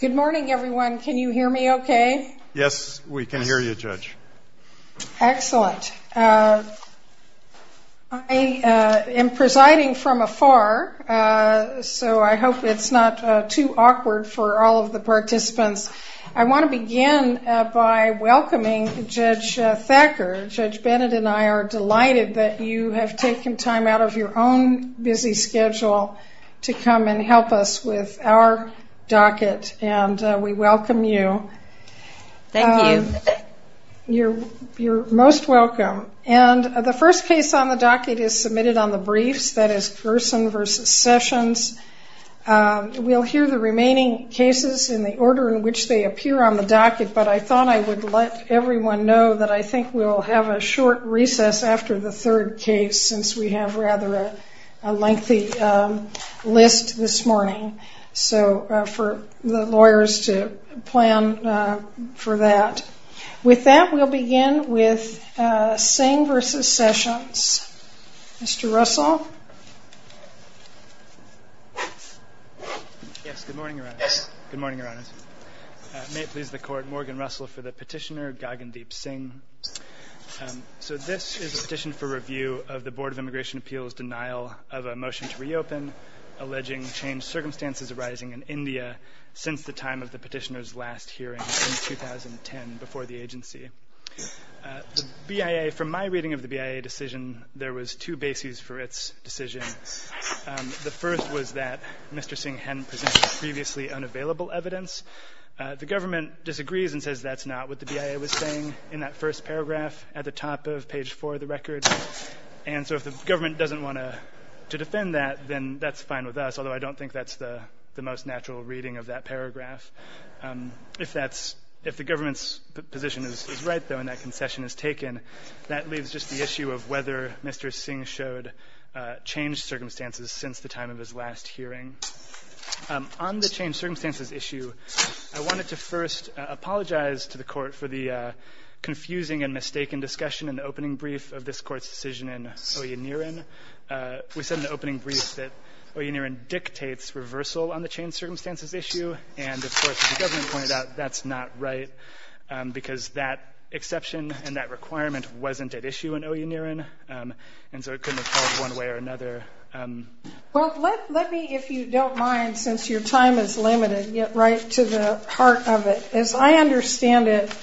Good morning, everyone. Can you hear me okay? Yes, we can hear you, Judge. Excellent. I am presiding from afar, so I hope it's not too awkward for all of the participants. I want to begin by welcoming Judge Thacker. Judge Bennett and I are delighted that you have taken time out of your own busy schedule to come and help us with our docket, and we welcome you. Thank you. You're most welcome. And the first case on the docket is submitted on the briefs, that is Gerson v. Sessions. We'll hear the remaining cases in the order in which they appear on the docket, but I thought I would let everyone know that I think we'll have a short recess after the third case, since we have rather a lengthy list this morning, so for the lawyers to plan for that. With that, we'll begin with Singh v. Sessions. Mr. Russell? Yes, good morning, Your Honors. May it please the Court, Morgan Deep Singh. So this is a petition for review of the Board of Immigration Appeals' denial of a motion to reopen, alleging changed circumstances arising in India since the time of the petitioner's last hearing in 2010, before the agency. The BIA, from my reading of the BIA decision, there was two bases for its decision. The first was that Mr. Singh hadn't presented previously unavailable evidence. The government disagrees and says that's not what the BIA was saying in that first paragraph at the top of page 4 of the record, and so if the government doesn't want to defend that, then that's fine with us, although I don't think that's the most natural reading of that paragraph. If the government's position is right, though, and that concession is taken, that leaves just the issue of whether Mr. Singh showed changed circumstances since the time of his last hearing. On the changed circumstances issue, I wanted to first apologize to the Court for the confusing and mistaken discussion in the opening brief of this Court's decision in Oyendiran. We said in the opening brief that Oyendiran dictates reversal on the changed circumstances issue, and of course, as the government pointed out, that's not right, because that exception and that requirement wasn't at issue in Oyendiran, and so it couldn't have held one way or another. Well, let me, if you don't mind, since your time is limited, get right to the heart of it. As I understand it,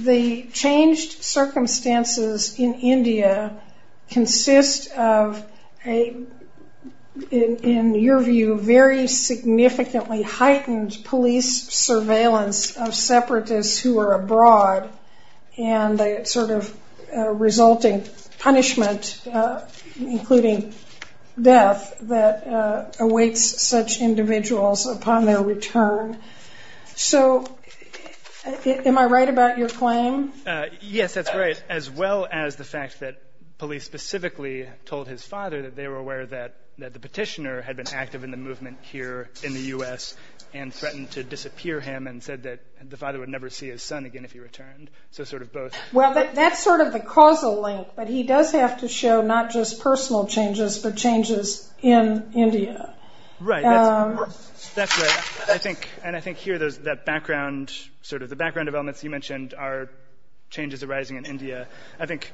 the changed circumstances in India consist of, in your view, very significantly heightened police surveillance of separatists who are abroad, and the sort of resulting punishment, including death, that awaits such individuals upon their return. So, am I right about your claim? Yes, that's right, as well as the fact that police specifically told his father that they were aware that the petitioner had been active in the movement here in the U.S. and threatened to disappear him and said that the father would never see his son again if he returned. So sort of both. Well, that's sort of the causal link, but he does have to show not just personal changes, but changes in India. Right. That's right. I think, and I think here there's that background, sort of the background developments you mentioned are changes arising in India. I think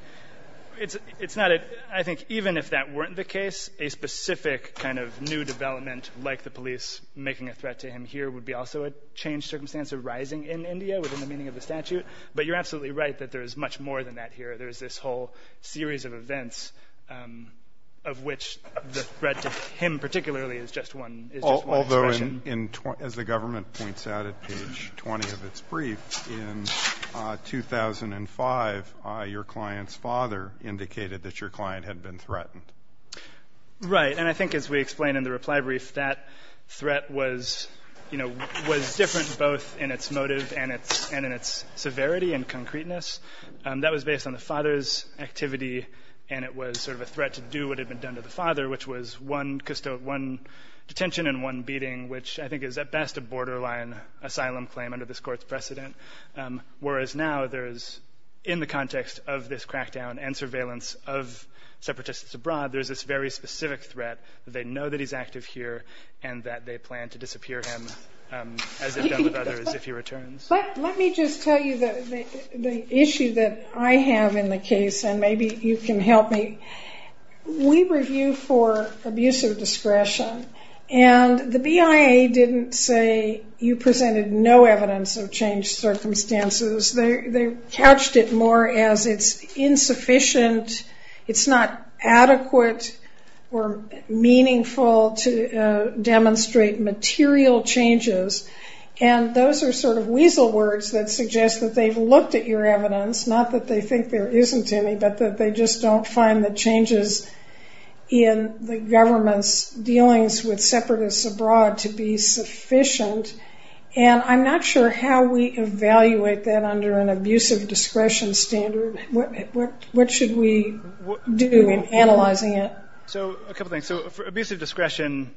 it's not a, I think even if that weren't the case, a specific kind of new development like the police making a threat to him here would be also a changed circumstance arising in India within the meaning of the statute. But you're absolutely right that there's much more than that here. There's this whole series of events of which the threat to him particularly is just one, is just one expression. Although in, as the government points out at page 20 of its brief, in 2005, your client's father indicated that your client had been threatened. Right. And I think as we explained in the reply brief, that threat was, you know, was different both in its motive and its, and in its severity and concreteness. That was based on the father's activity. And it was sort of a threat to do what had been done to the father, which was one, one detention and one beating, which I think is at best a borderline asylum claim under this court's precedent. Whereas now there's, in the context of this crackdown and surveillance of separatists abroad, there's this very specific threat that they know that he's active here and that they plan to disappear him as if done with others, if he returns. But let me just tell you that the issue that I have in the case, and maybe you can help me, we review for abuse of discretion and the BIA didn't say you presented no evidence of changed circumstances. They, they couched it more as it's insufficient. It's not adequate or meaningful to demonstrate material changes. And those are sort of weasel words that suggest that they've looked at your evidence, not that they think there isn't any, but that they just don't find the changes in the government's dealings with separatists abroad to be sufficient. And I'm not sure how we evaluate that under an abuse of discretion standard. What, what, what should we do in analyzing it? So, a couple things. So for abuse of discretion,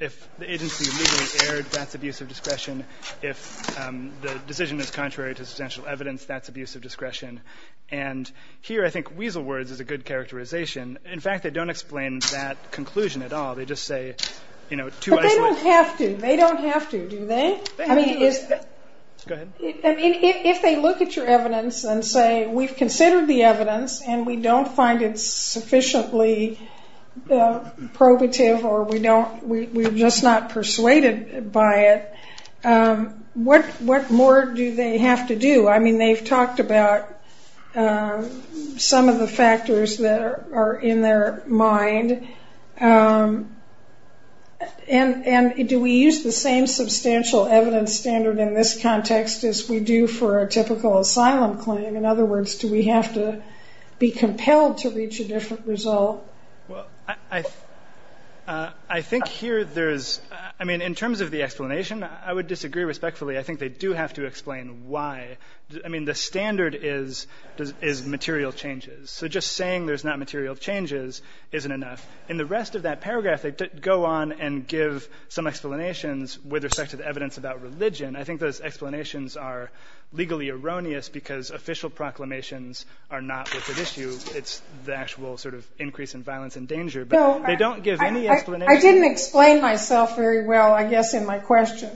if the agency immediately erred, that's abuse of discretion. If the decision is contrary to substantial evidence, that's abuse of discretion. And here I think weasel words is a good characterization. In fact, they don't explain that conclusion at all. They just say, you know, two isolated But they don't have to. They don't have to, do they? I mean, if they look at your evidence and say, we've considered the evidence and we don't find it sufficiently probative or we don't, we're just not persuaded by it. What, what more do they have to do? I mean, they've talked about some of the factors that are, are in their mind. And, and do we use the same substantial evidence standard in this context as we do for a typical asylum claim? In other words, do we have to be compelled to reach a different result? Well, I, I think here there's, I mean, in terms of the explanation, I would disagree respectfully. I think they do have to explain why. I mean, the standard is, is material changes. So just saying there's not material changes isn't enough. In the rest of that paragraph, they go on and give some explanations with respect to the evidence about religion. I think those explanations are legally erroneous because official proclamations are not what's at issue. It's the actual sort of increase in violence and danger, but they don't give any explanation. I didn't explain myself very well, I guess, in my question.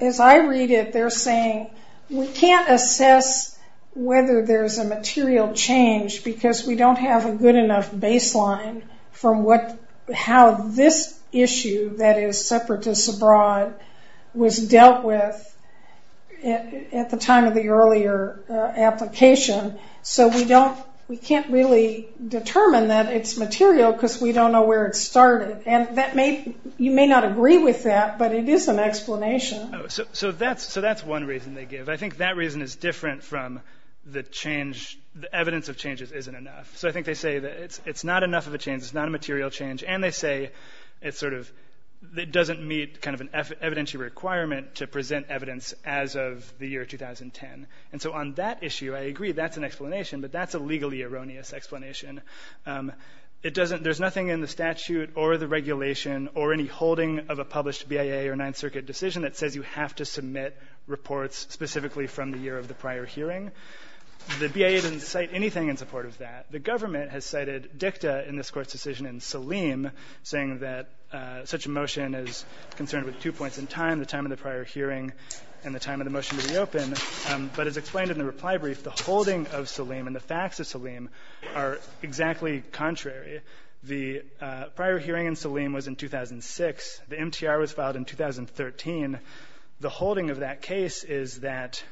As I read it, they're saying we can't assess whether there's a material change because we don't have a good enough baseline from what, how this issue that is separatists abroad was dealt with at the time of the earlier application. So we don't, we can't really determine that it's material because we don't know where it started. And that may, you may not agree with that, but it is an explanation. So that's, so that's one reason they give. I think that reason is different from the change, the evidence of changes isn't enough. So I think they say that it's, it's not enough of a change. It's not a material change. And they say it's sort of, it doesn't meet kind of an evidentiary requirement to present evidence as of the year 2010. And so on that issue, I agree that's an explanation, but that's a legally erroneous explanation. It doesn't, there's nothing in the statute or the regulation or any holding of a published BIA or ninth circuit decision that says you have to submit reports specifically from the year of the prior hearing. The BIA didn't cite anything in support of that. The government has cited dicta in this court's decision in Saleem saying that such a motion is concerned with two points in time, the time of the prior hearing and the time of the motion to reopen. But as explained in the reply brief, the holding of Saleem and the facts of Saleem are exactly contrary. The prior hearing in Saleem was in 2006. The MTR was filed in 2013. The holding of that case is that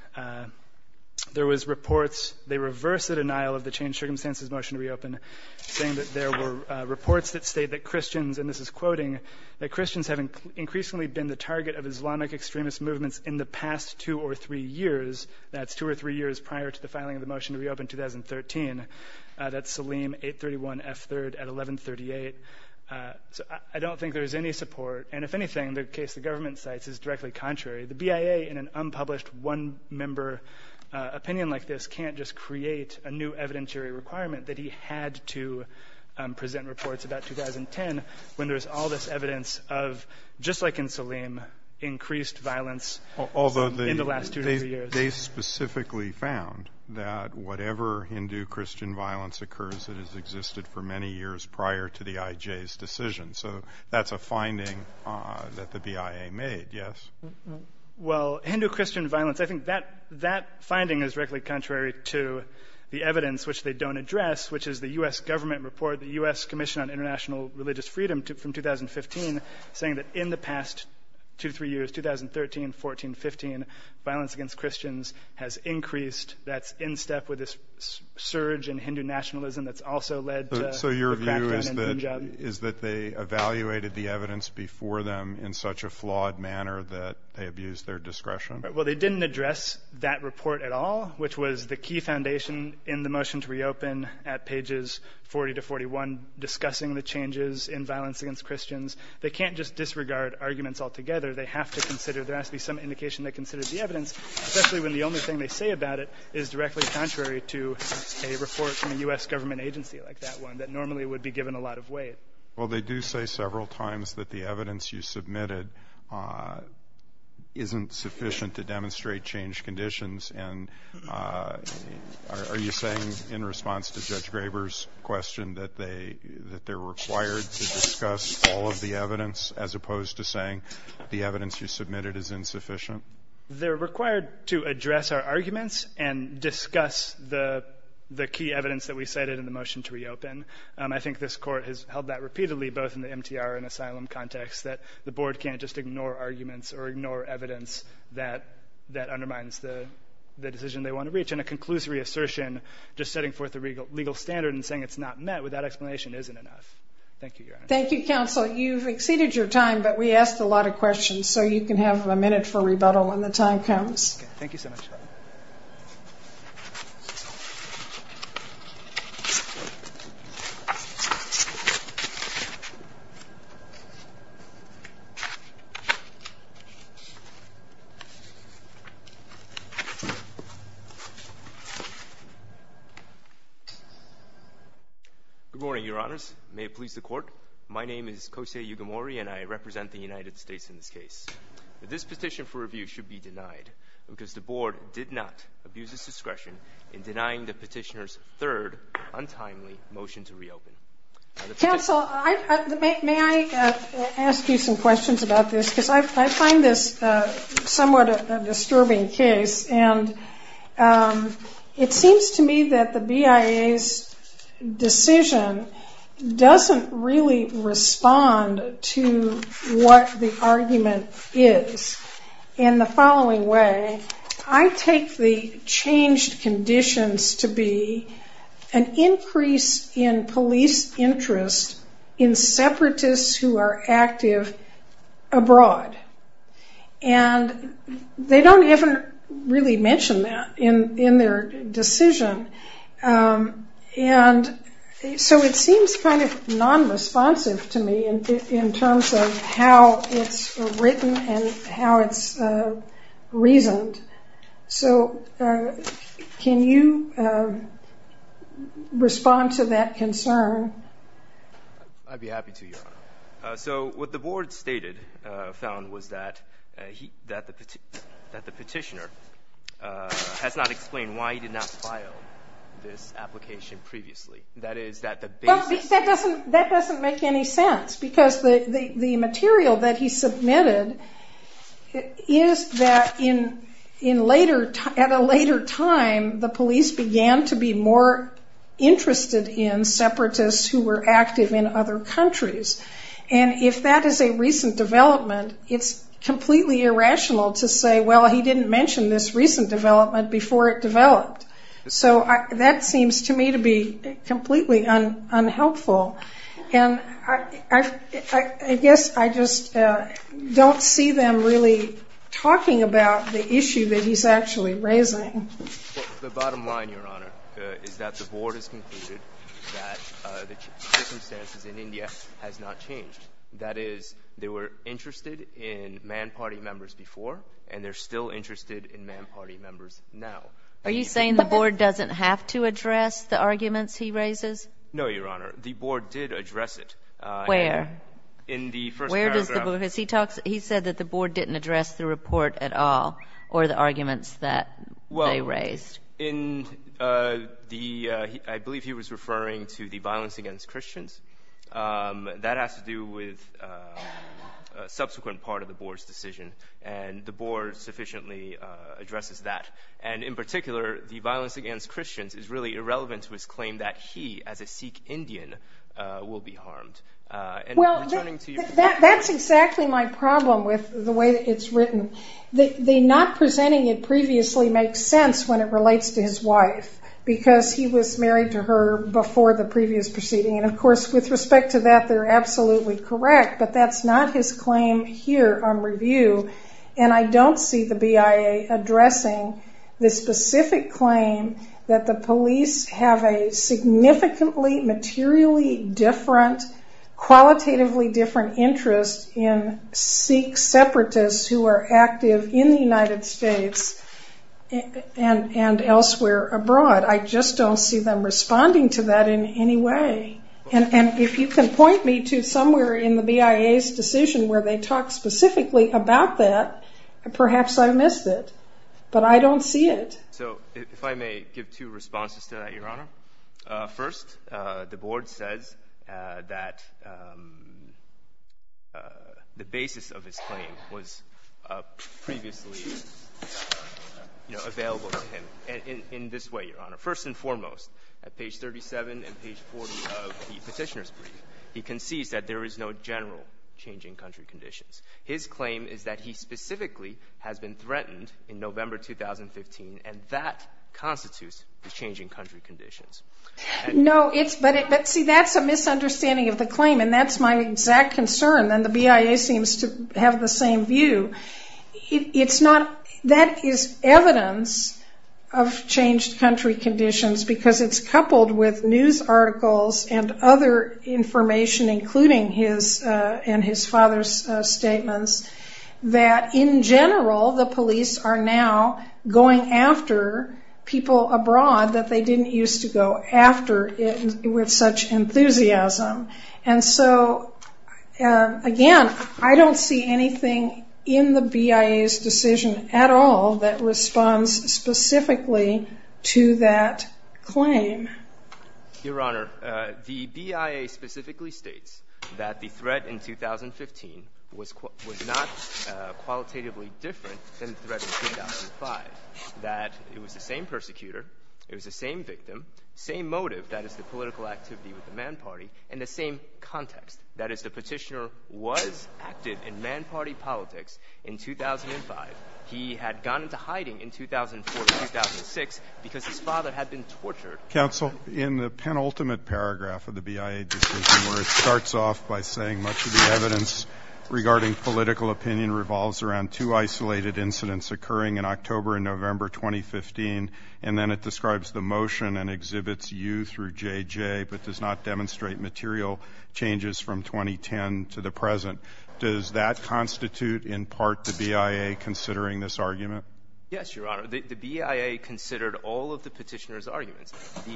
there was reports, they reverse the denial of the change circumstances motion to reopen saying that there were reports that state that Christians, and this is quoting that Christians have increasingly been the target of Islamic extremist movements in the past two or three years. That's two or three years prior to the filing of the motion to at 1138. Uh, so I don't think there's any support. And if anything, the case, the government sites is directly contrary. The BIA in an unpublished one member opinion like this can't just create a new evidentiary requirement that he had to present reports about 2010 when there's all this evidence of just like in Saleem increased violence in the last two or three years. They specifically found that whatever Hindu Christian violence occurs that has existed for many years prior to the IJ's decision. So that's a finding, uh, that the BIA made. Yes. Well, Hindu Christian violence. I think that that finding is directly contrary to the evidence which they don't address, which is the U S government report, the U S commission on international religious freedom from 2015 saying that in the past two, three years, 2013, 14, 15 violence against Christians has increased. That's in step with this surge in Hindu nationalism. That's also led. So your view is that they evaluated the evidence before them in such a flawed manner that they abused their discretion. Well, they didn't address that report at all, which was the key foundation in the motion to reopen at pages 40 to 41 discussing the changes in violence against Christians. They can't just disregard arguments altogether. They have to consider there has to be some indication that considers the evidence, especially when the only thing they say about it is directly contrary to a report from the U S government agency like that one that normally would be given a lot of weight. Well, they do say several times that the evidence you submitted, uh, isn't sufficient to demonstrate change conditions. And, uh, are you saying in response to judge Graber's question that they, that they're required to discuss all of the evidence as they're required to address our arguments and discuss the, the key evidence that we cited in the motion to reopen? Um, I think this court has held that repeatedly, both in the MTR and asylum context that the board can't just ignore arguments or ignore evidence that that undermines the decision they want to reach in a conclusory assertion, just setting forth the legal legal standard and saying it's not met with that explanation isn't enough. Thank you. Thank you, counsel. You've exceeded your time, but we asked a lot of questions so you can have a minute for rebuttal when the time comes. Thank you so much. Good morning, your honors. May it please the court. My name is Kosei Yugimori and I represent the United States. This petition for review should be denied because the board did not abuse its discretion in denying the petitioner's third untimely motion to reopen. Counsel, may I ask you some questions about this? Because I find this, uh, somewhat a disturbing case and, um, it seems to me that the BIA's decision doesn't really respond to what the argument is. In the following way, I take the changed conditions to be an increase in police interest in separatists who are active abroad, and they don't even really mention that in their decision. And so it seems kind of non-responsive to me in terms of how it's written and how it's, uh, reasoned. So, uh, can you, uh, respond to that concern? I'd be happy to, your honor. So what the board stated, uh, found was that, uh, he, that the, that the petitioner, uh, has not explained why he did not file this application previously. That is, that the the, the, the material that he submitted is that in, in later, at a later time, the police began to be more interested in separatists who were active in other countries. And if that is a recent development, it's completely irrational to say, well, he didn't mention this recent development before it developed. So that seems to me to be completely unhelpful. And I, I, I guess I just, uh, don't see them really talking about the issue that he's actually raising. Well, the bottom line, your honor, uh, is that the board has concluded that, uh, the circumstances in India has not changed. That is, they were interested in man party members before, and they're still interested in man party members now. Are you saying the board did address it, uh, in the first paragraph? Where? Where does the board, has he talked, he said that the board didn't address the report at all or the arguments that they raised? Well, in, uh, the, uh, I believe he was referring to the violence against Christians. Um, that has to do with, uh, a subsequent part of the board's decision. And the board sufficiently, uh, addresses that. And in particular, the violence against Christians is really irrelevant to his claim that he, as a Sikh Indian, uh, will be harmed. Uh, and returning to your- That's exactly my problem with the way it's written. The, the not presenting it previously makes sense when it relates to his wife because he was married to her before the previous proceeding. And of course, with respect to that, they're absolutely correct, but that's not his claim here on review. And I don't see the BIA addressing the specific claim that the police have a significantly materially different, qualitatively different interest in Sikh separatists who are active in the United States and, and elsewhere abroad. I just don't see them responding to that in any way. And, and if you can point me to somewhere in the BIA's decision where they talk specifically about that, perhaps I missed it, but I don't see it. So if I may give two responses to that, Your Honor. Uh, first, uh, the board says, uh, that, um, uh, the basis of his claim was, uh, previously, you know, available to him. And in, in this way, Your Honor, first and foremost, at page 37 and page 40 of the petitioner's brief, he concedes that there is no general change in country conditions. His claim is that he constitutes the changing country conditions. No, it's, but it, but see, that's a misunderstanding of the claim and that's my exact concern. Then the BIA seems to have the same view. It's not, that is evidence of changed country conditions because it's coupled with news articles and other information, including his, uh, and his father's statements that in general, the police are now going after people abroad that they didn't use to go after it with such enthusiasm. And so, again, I don't see anything in the BIA's decision at all that responds specifically to that claim. Your Honor, uh, the BIA specifically states that the threat in 2015 was, was not, uh, different than the threat in 2005. That it was the same persecutor, it was the same victim, same motive, that is the political activity with the Mann Party, and the same context, that is the petitioner was active in Mann Party politics in 2005. He had gone into hiding in 2004 to 2006 because his father had been tortured. Counsel, in the penultimate paragraph of the BIA decision, where it starts off by saying much of the evidence regarding political opinion revolves around two isolated incidents occurring in October and November 2015, and then it describes the motion and exhibits U through JJ, but does not demonstrate material changes from 2010 to the present. Does that constitute, in part, the BIA considering this argument? Yes, Your Honor. The, the BIA considered all of the petitioner's arguments. The,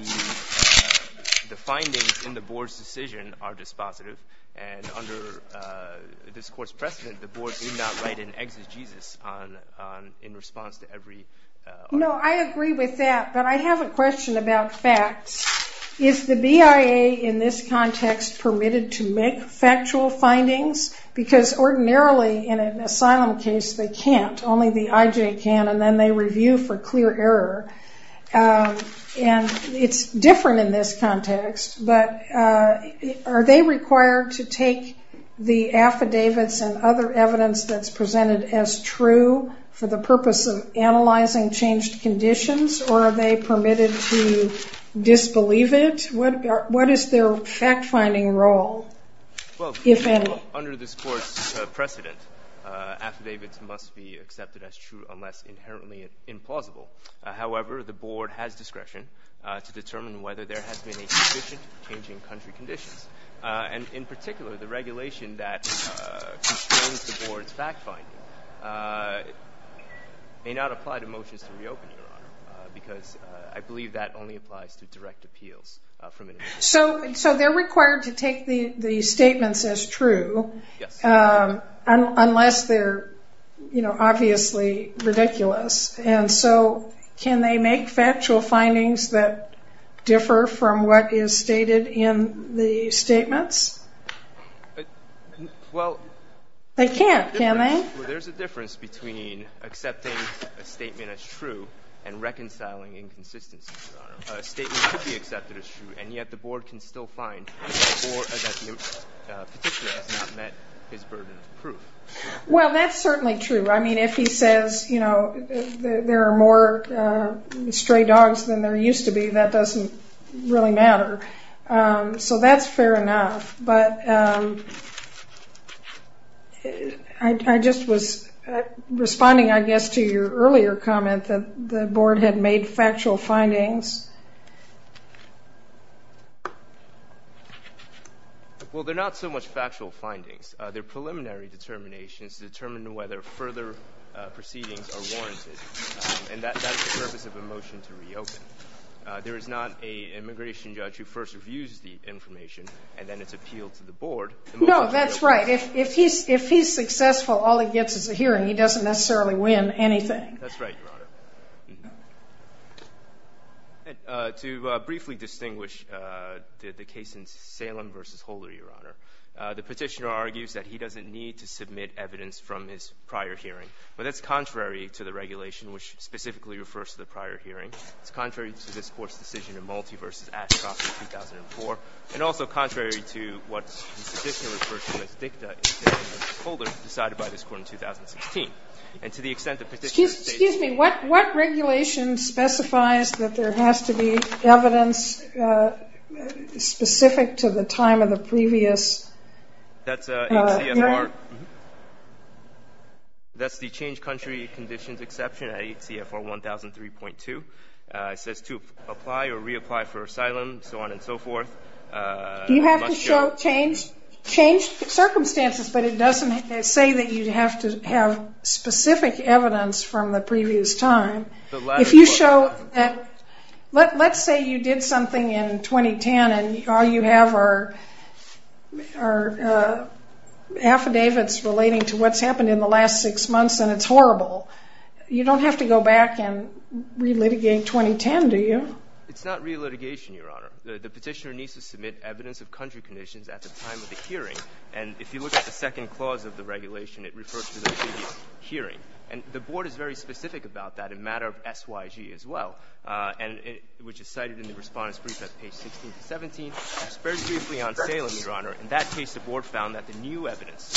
the findings in the Board's decision are dispositive, and under, uh, this Court's adjustment, the Board did not write an exegesis on, on, in response to every, uh, argument. No, I agree with that, but I have a question about facts. Is the BIA, in this context, permitted to make factual findings? Because ordinarily, in an asylum case, they can't, only the IJ can, and then they review for clear error. Um, and it's different in this context, but, uh, are they required to take the affidavits and other evidence that's presented as true for the purpose of analyzing changed conditions, or are they permitted to disbelieve it? What, what is their fact-finding role, if any? Well, under this Court's, uh, precedent, uh, affidavits must be accepted as true unless inherently implausible. However, the Board has discretion, uh, to determine whether there has been a suspicion of changing country conditions. Uh, and in particular, the regulation that, uh, constrains the Board's fact-finding, uh, may not apply to motions to reopen, Your Honor, uh, because, uh, I believe that only applies to direct appeals, uh, from an individual. So, so they're required to take the, the statements as true. Yes. Um, unless they're, you know, obviously ridiculous. And so, can they make factual findings that differ from what is stated in the statements? Well, they can't, can they? Well, there's a difference between accepting a statement as true and reconciling inconsistencies, Your Honor. A statement could be accepted as true, and yet the Board can still find that the, uh, petitioner has not met his burden of proof. Well, that's certainly true. I mean, if he says, you know, there are more, uh, stray dogs than there used to be, that doesn't really matter. Um, so that's fair enough. But, um, I, I just was, uh, responding, I guess, to your earlier comment that the Board had made factual findings. Well, they're not so much factual findings. Uh, they're preliminary determinations to determine whether further, uh, proceedings are warranted. Um, and that, that's the purpose of a motion to reopen. Uh, there is not a immigration judge who first reviews the information, and then it's appealed to the Board. No, that's right. If, if he's, if he's successful, all he gets is a hearing. He doesn't necessarily win anything. That's right, Your Honor. And, uh, to, uh, briefly distinguish, uh, the, the case in Salem v. Holder, Your Honor. Uh, the petitioner argues that he doesn't need to submit evidence from his prior hearing, but that's contrary to the regulation, which specifically refers to the prior hearing. It's contrary to this Court's decision in Malti v. Ashcroft in 2004, and also contrary to what the petitioner referred to as dicta in the case of Holder, decided by this Court in 2016. And to the extent the petitioner states that he's, he's, he's, he's, he's, he's, he's, he's, what regulation specifies that there has to be evidence, uh, specific to the time of the previous? That's, uh, ACFR. That's the Change Country Conditions Exception at ACFR 1003.2. Uh, it says to apply or reapply for asylum, so on and so forth. Uh. You have to show changed, changed circumstances, but it doesn't say that you'd have to have specific evidence from the previous time. If you show that, let, let's say you did something in 2010, and all you have are, are, uh, affidavits relating to what's happened in the last six months, and it's horrible. You don't have to go back and re-litigate 2010, do you? It's not re-litigation, Your Honor. The petitioner needs to submit evidence of country conditions at the time of the hearing, and if you look at the second clause of the regulation, it refers to the previous hearing, and the Board is very specific about that in matter of S.Y.G. as well, uh, and it, which is cited in the Respondents' Brief at page 16 to 17. It's very briefly on Salem, Your Honor. In that case, the Board found that the new evidence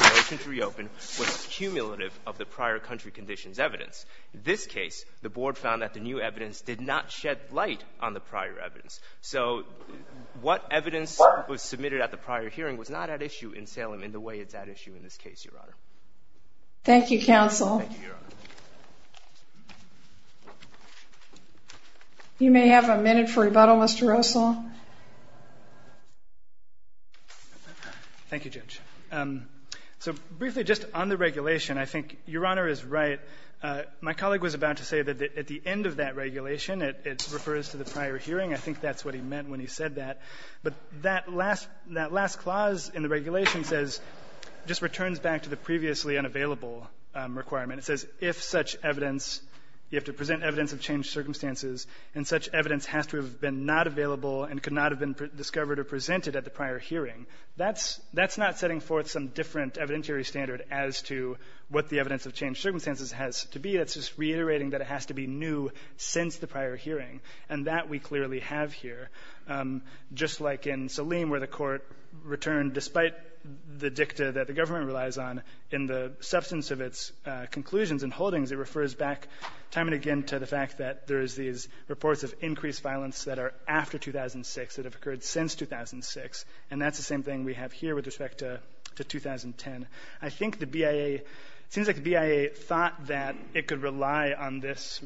in relation to reopen was cumulative of the prior country conditions evidence. This case, the Board found that the new evidence did not shed light on the prior evidence, so what evidence was submitted at the prior hearing was not at issue in Salem in the way it's at issue in this case, Your Honor. Thank you, counsel. Thank you, Your Honor. You may have a minute for rebuttal, Mr. Russell. Thank you, Judge. Um, so briefly, just on the regulation, I think Your Honor is right. Uh, my colleague was about to say that at the end of that regulation, it, it refers to the prior hearing. I think that's what he meant when he said that, but that last, that last clause in the back to the previously unavailable, um, requirement. It says if such evidence, you have to present evidence of changed circumstances, and such evidence has to have been not available and could not have been discovered or presented at the prior hearing, that's, that's not setting forth some different evidentiary standard as to what the evidence of changed circumstances has to be. That's just reiterating that it has to be new since the prior hearing, and that we clearly have here. Um, just like in Salem where the Court returned, despite the dicta that the government relies on in the substance of its, uh, conclusions and holdings, it refers back time and again to the fact that there is these reports of increased violence that are after 2006, that have occurred since 2006, and that's the same thing we have here with respect to, to 2010. I think the BIA, it seems like the BIA thought that it could rely on this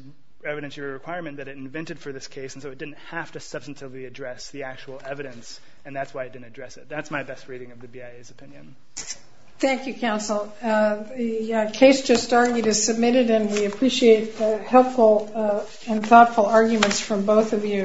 evidentiary requirement that it invented for this case, and so it didn't have to address the actual evidence, and that's why it didn't address it. That's my best reading of the BIA's opinion. Thank you, counsel. Uh, the, uh, case just argued is submitted, and we appreciate the helpful, uh, and thoughtful arguments from both of you.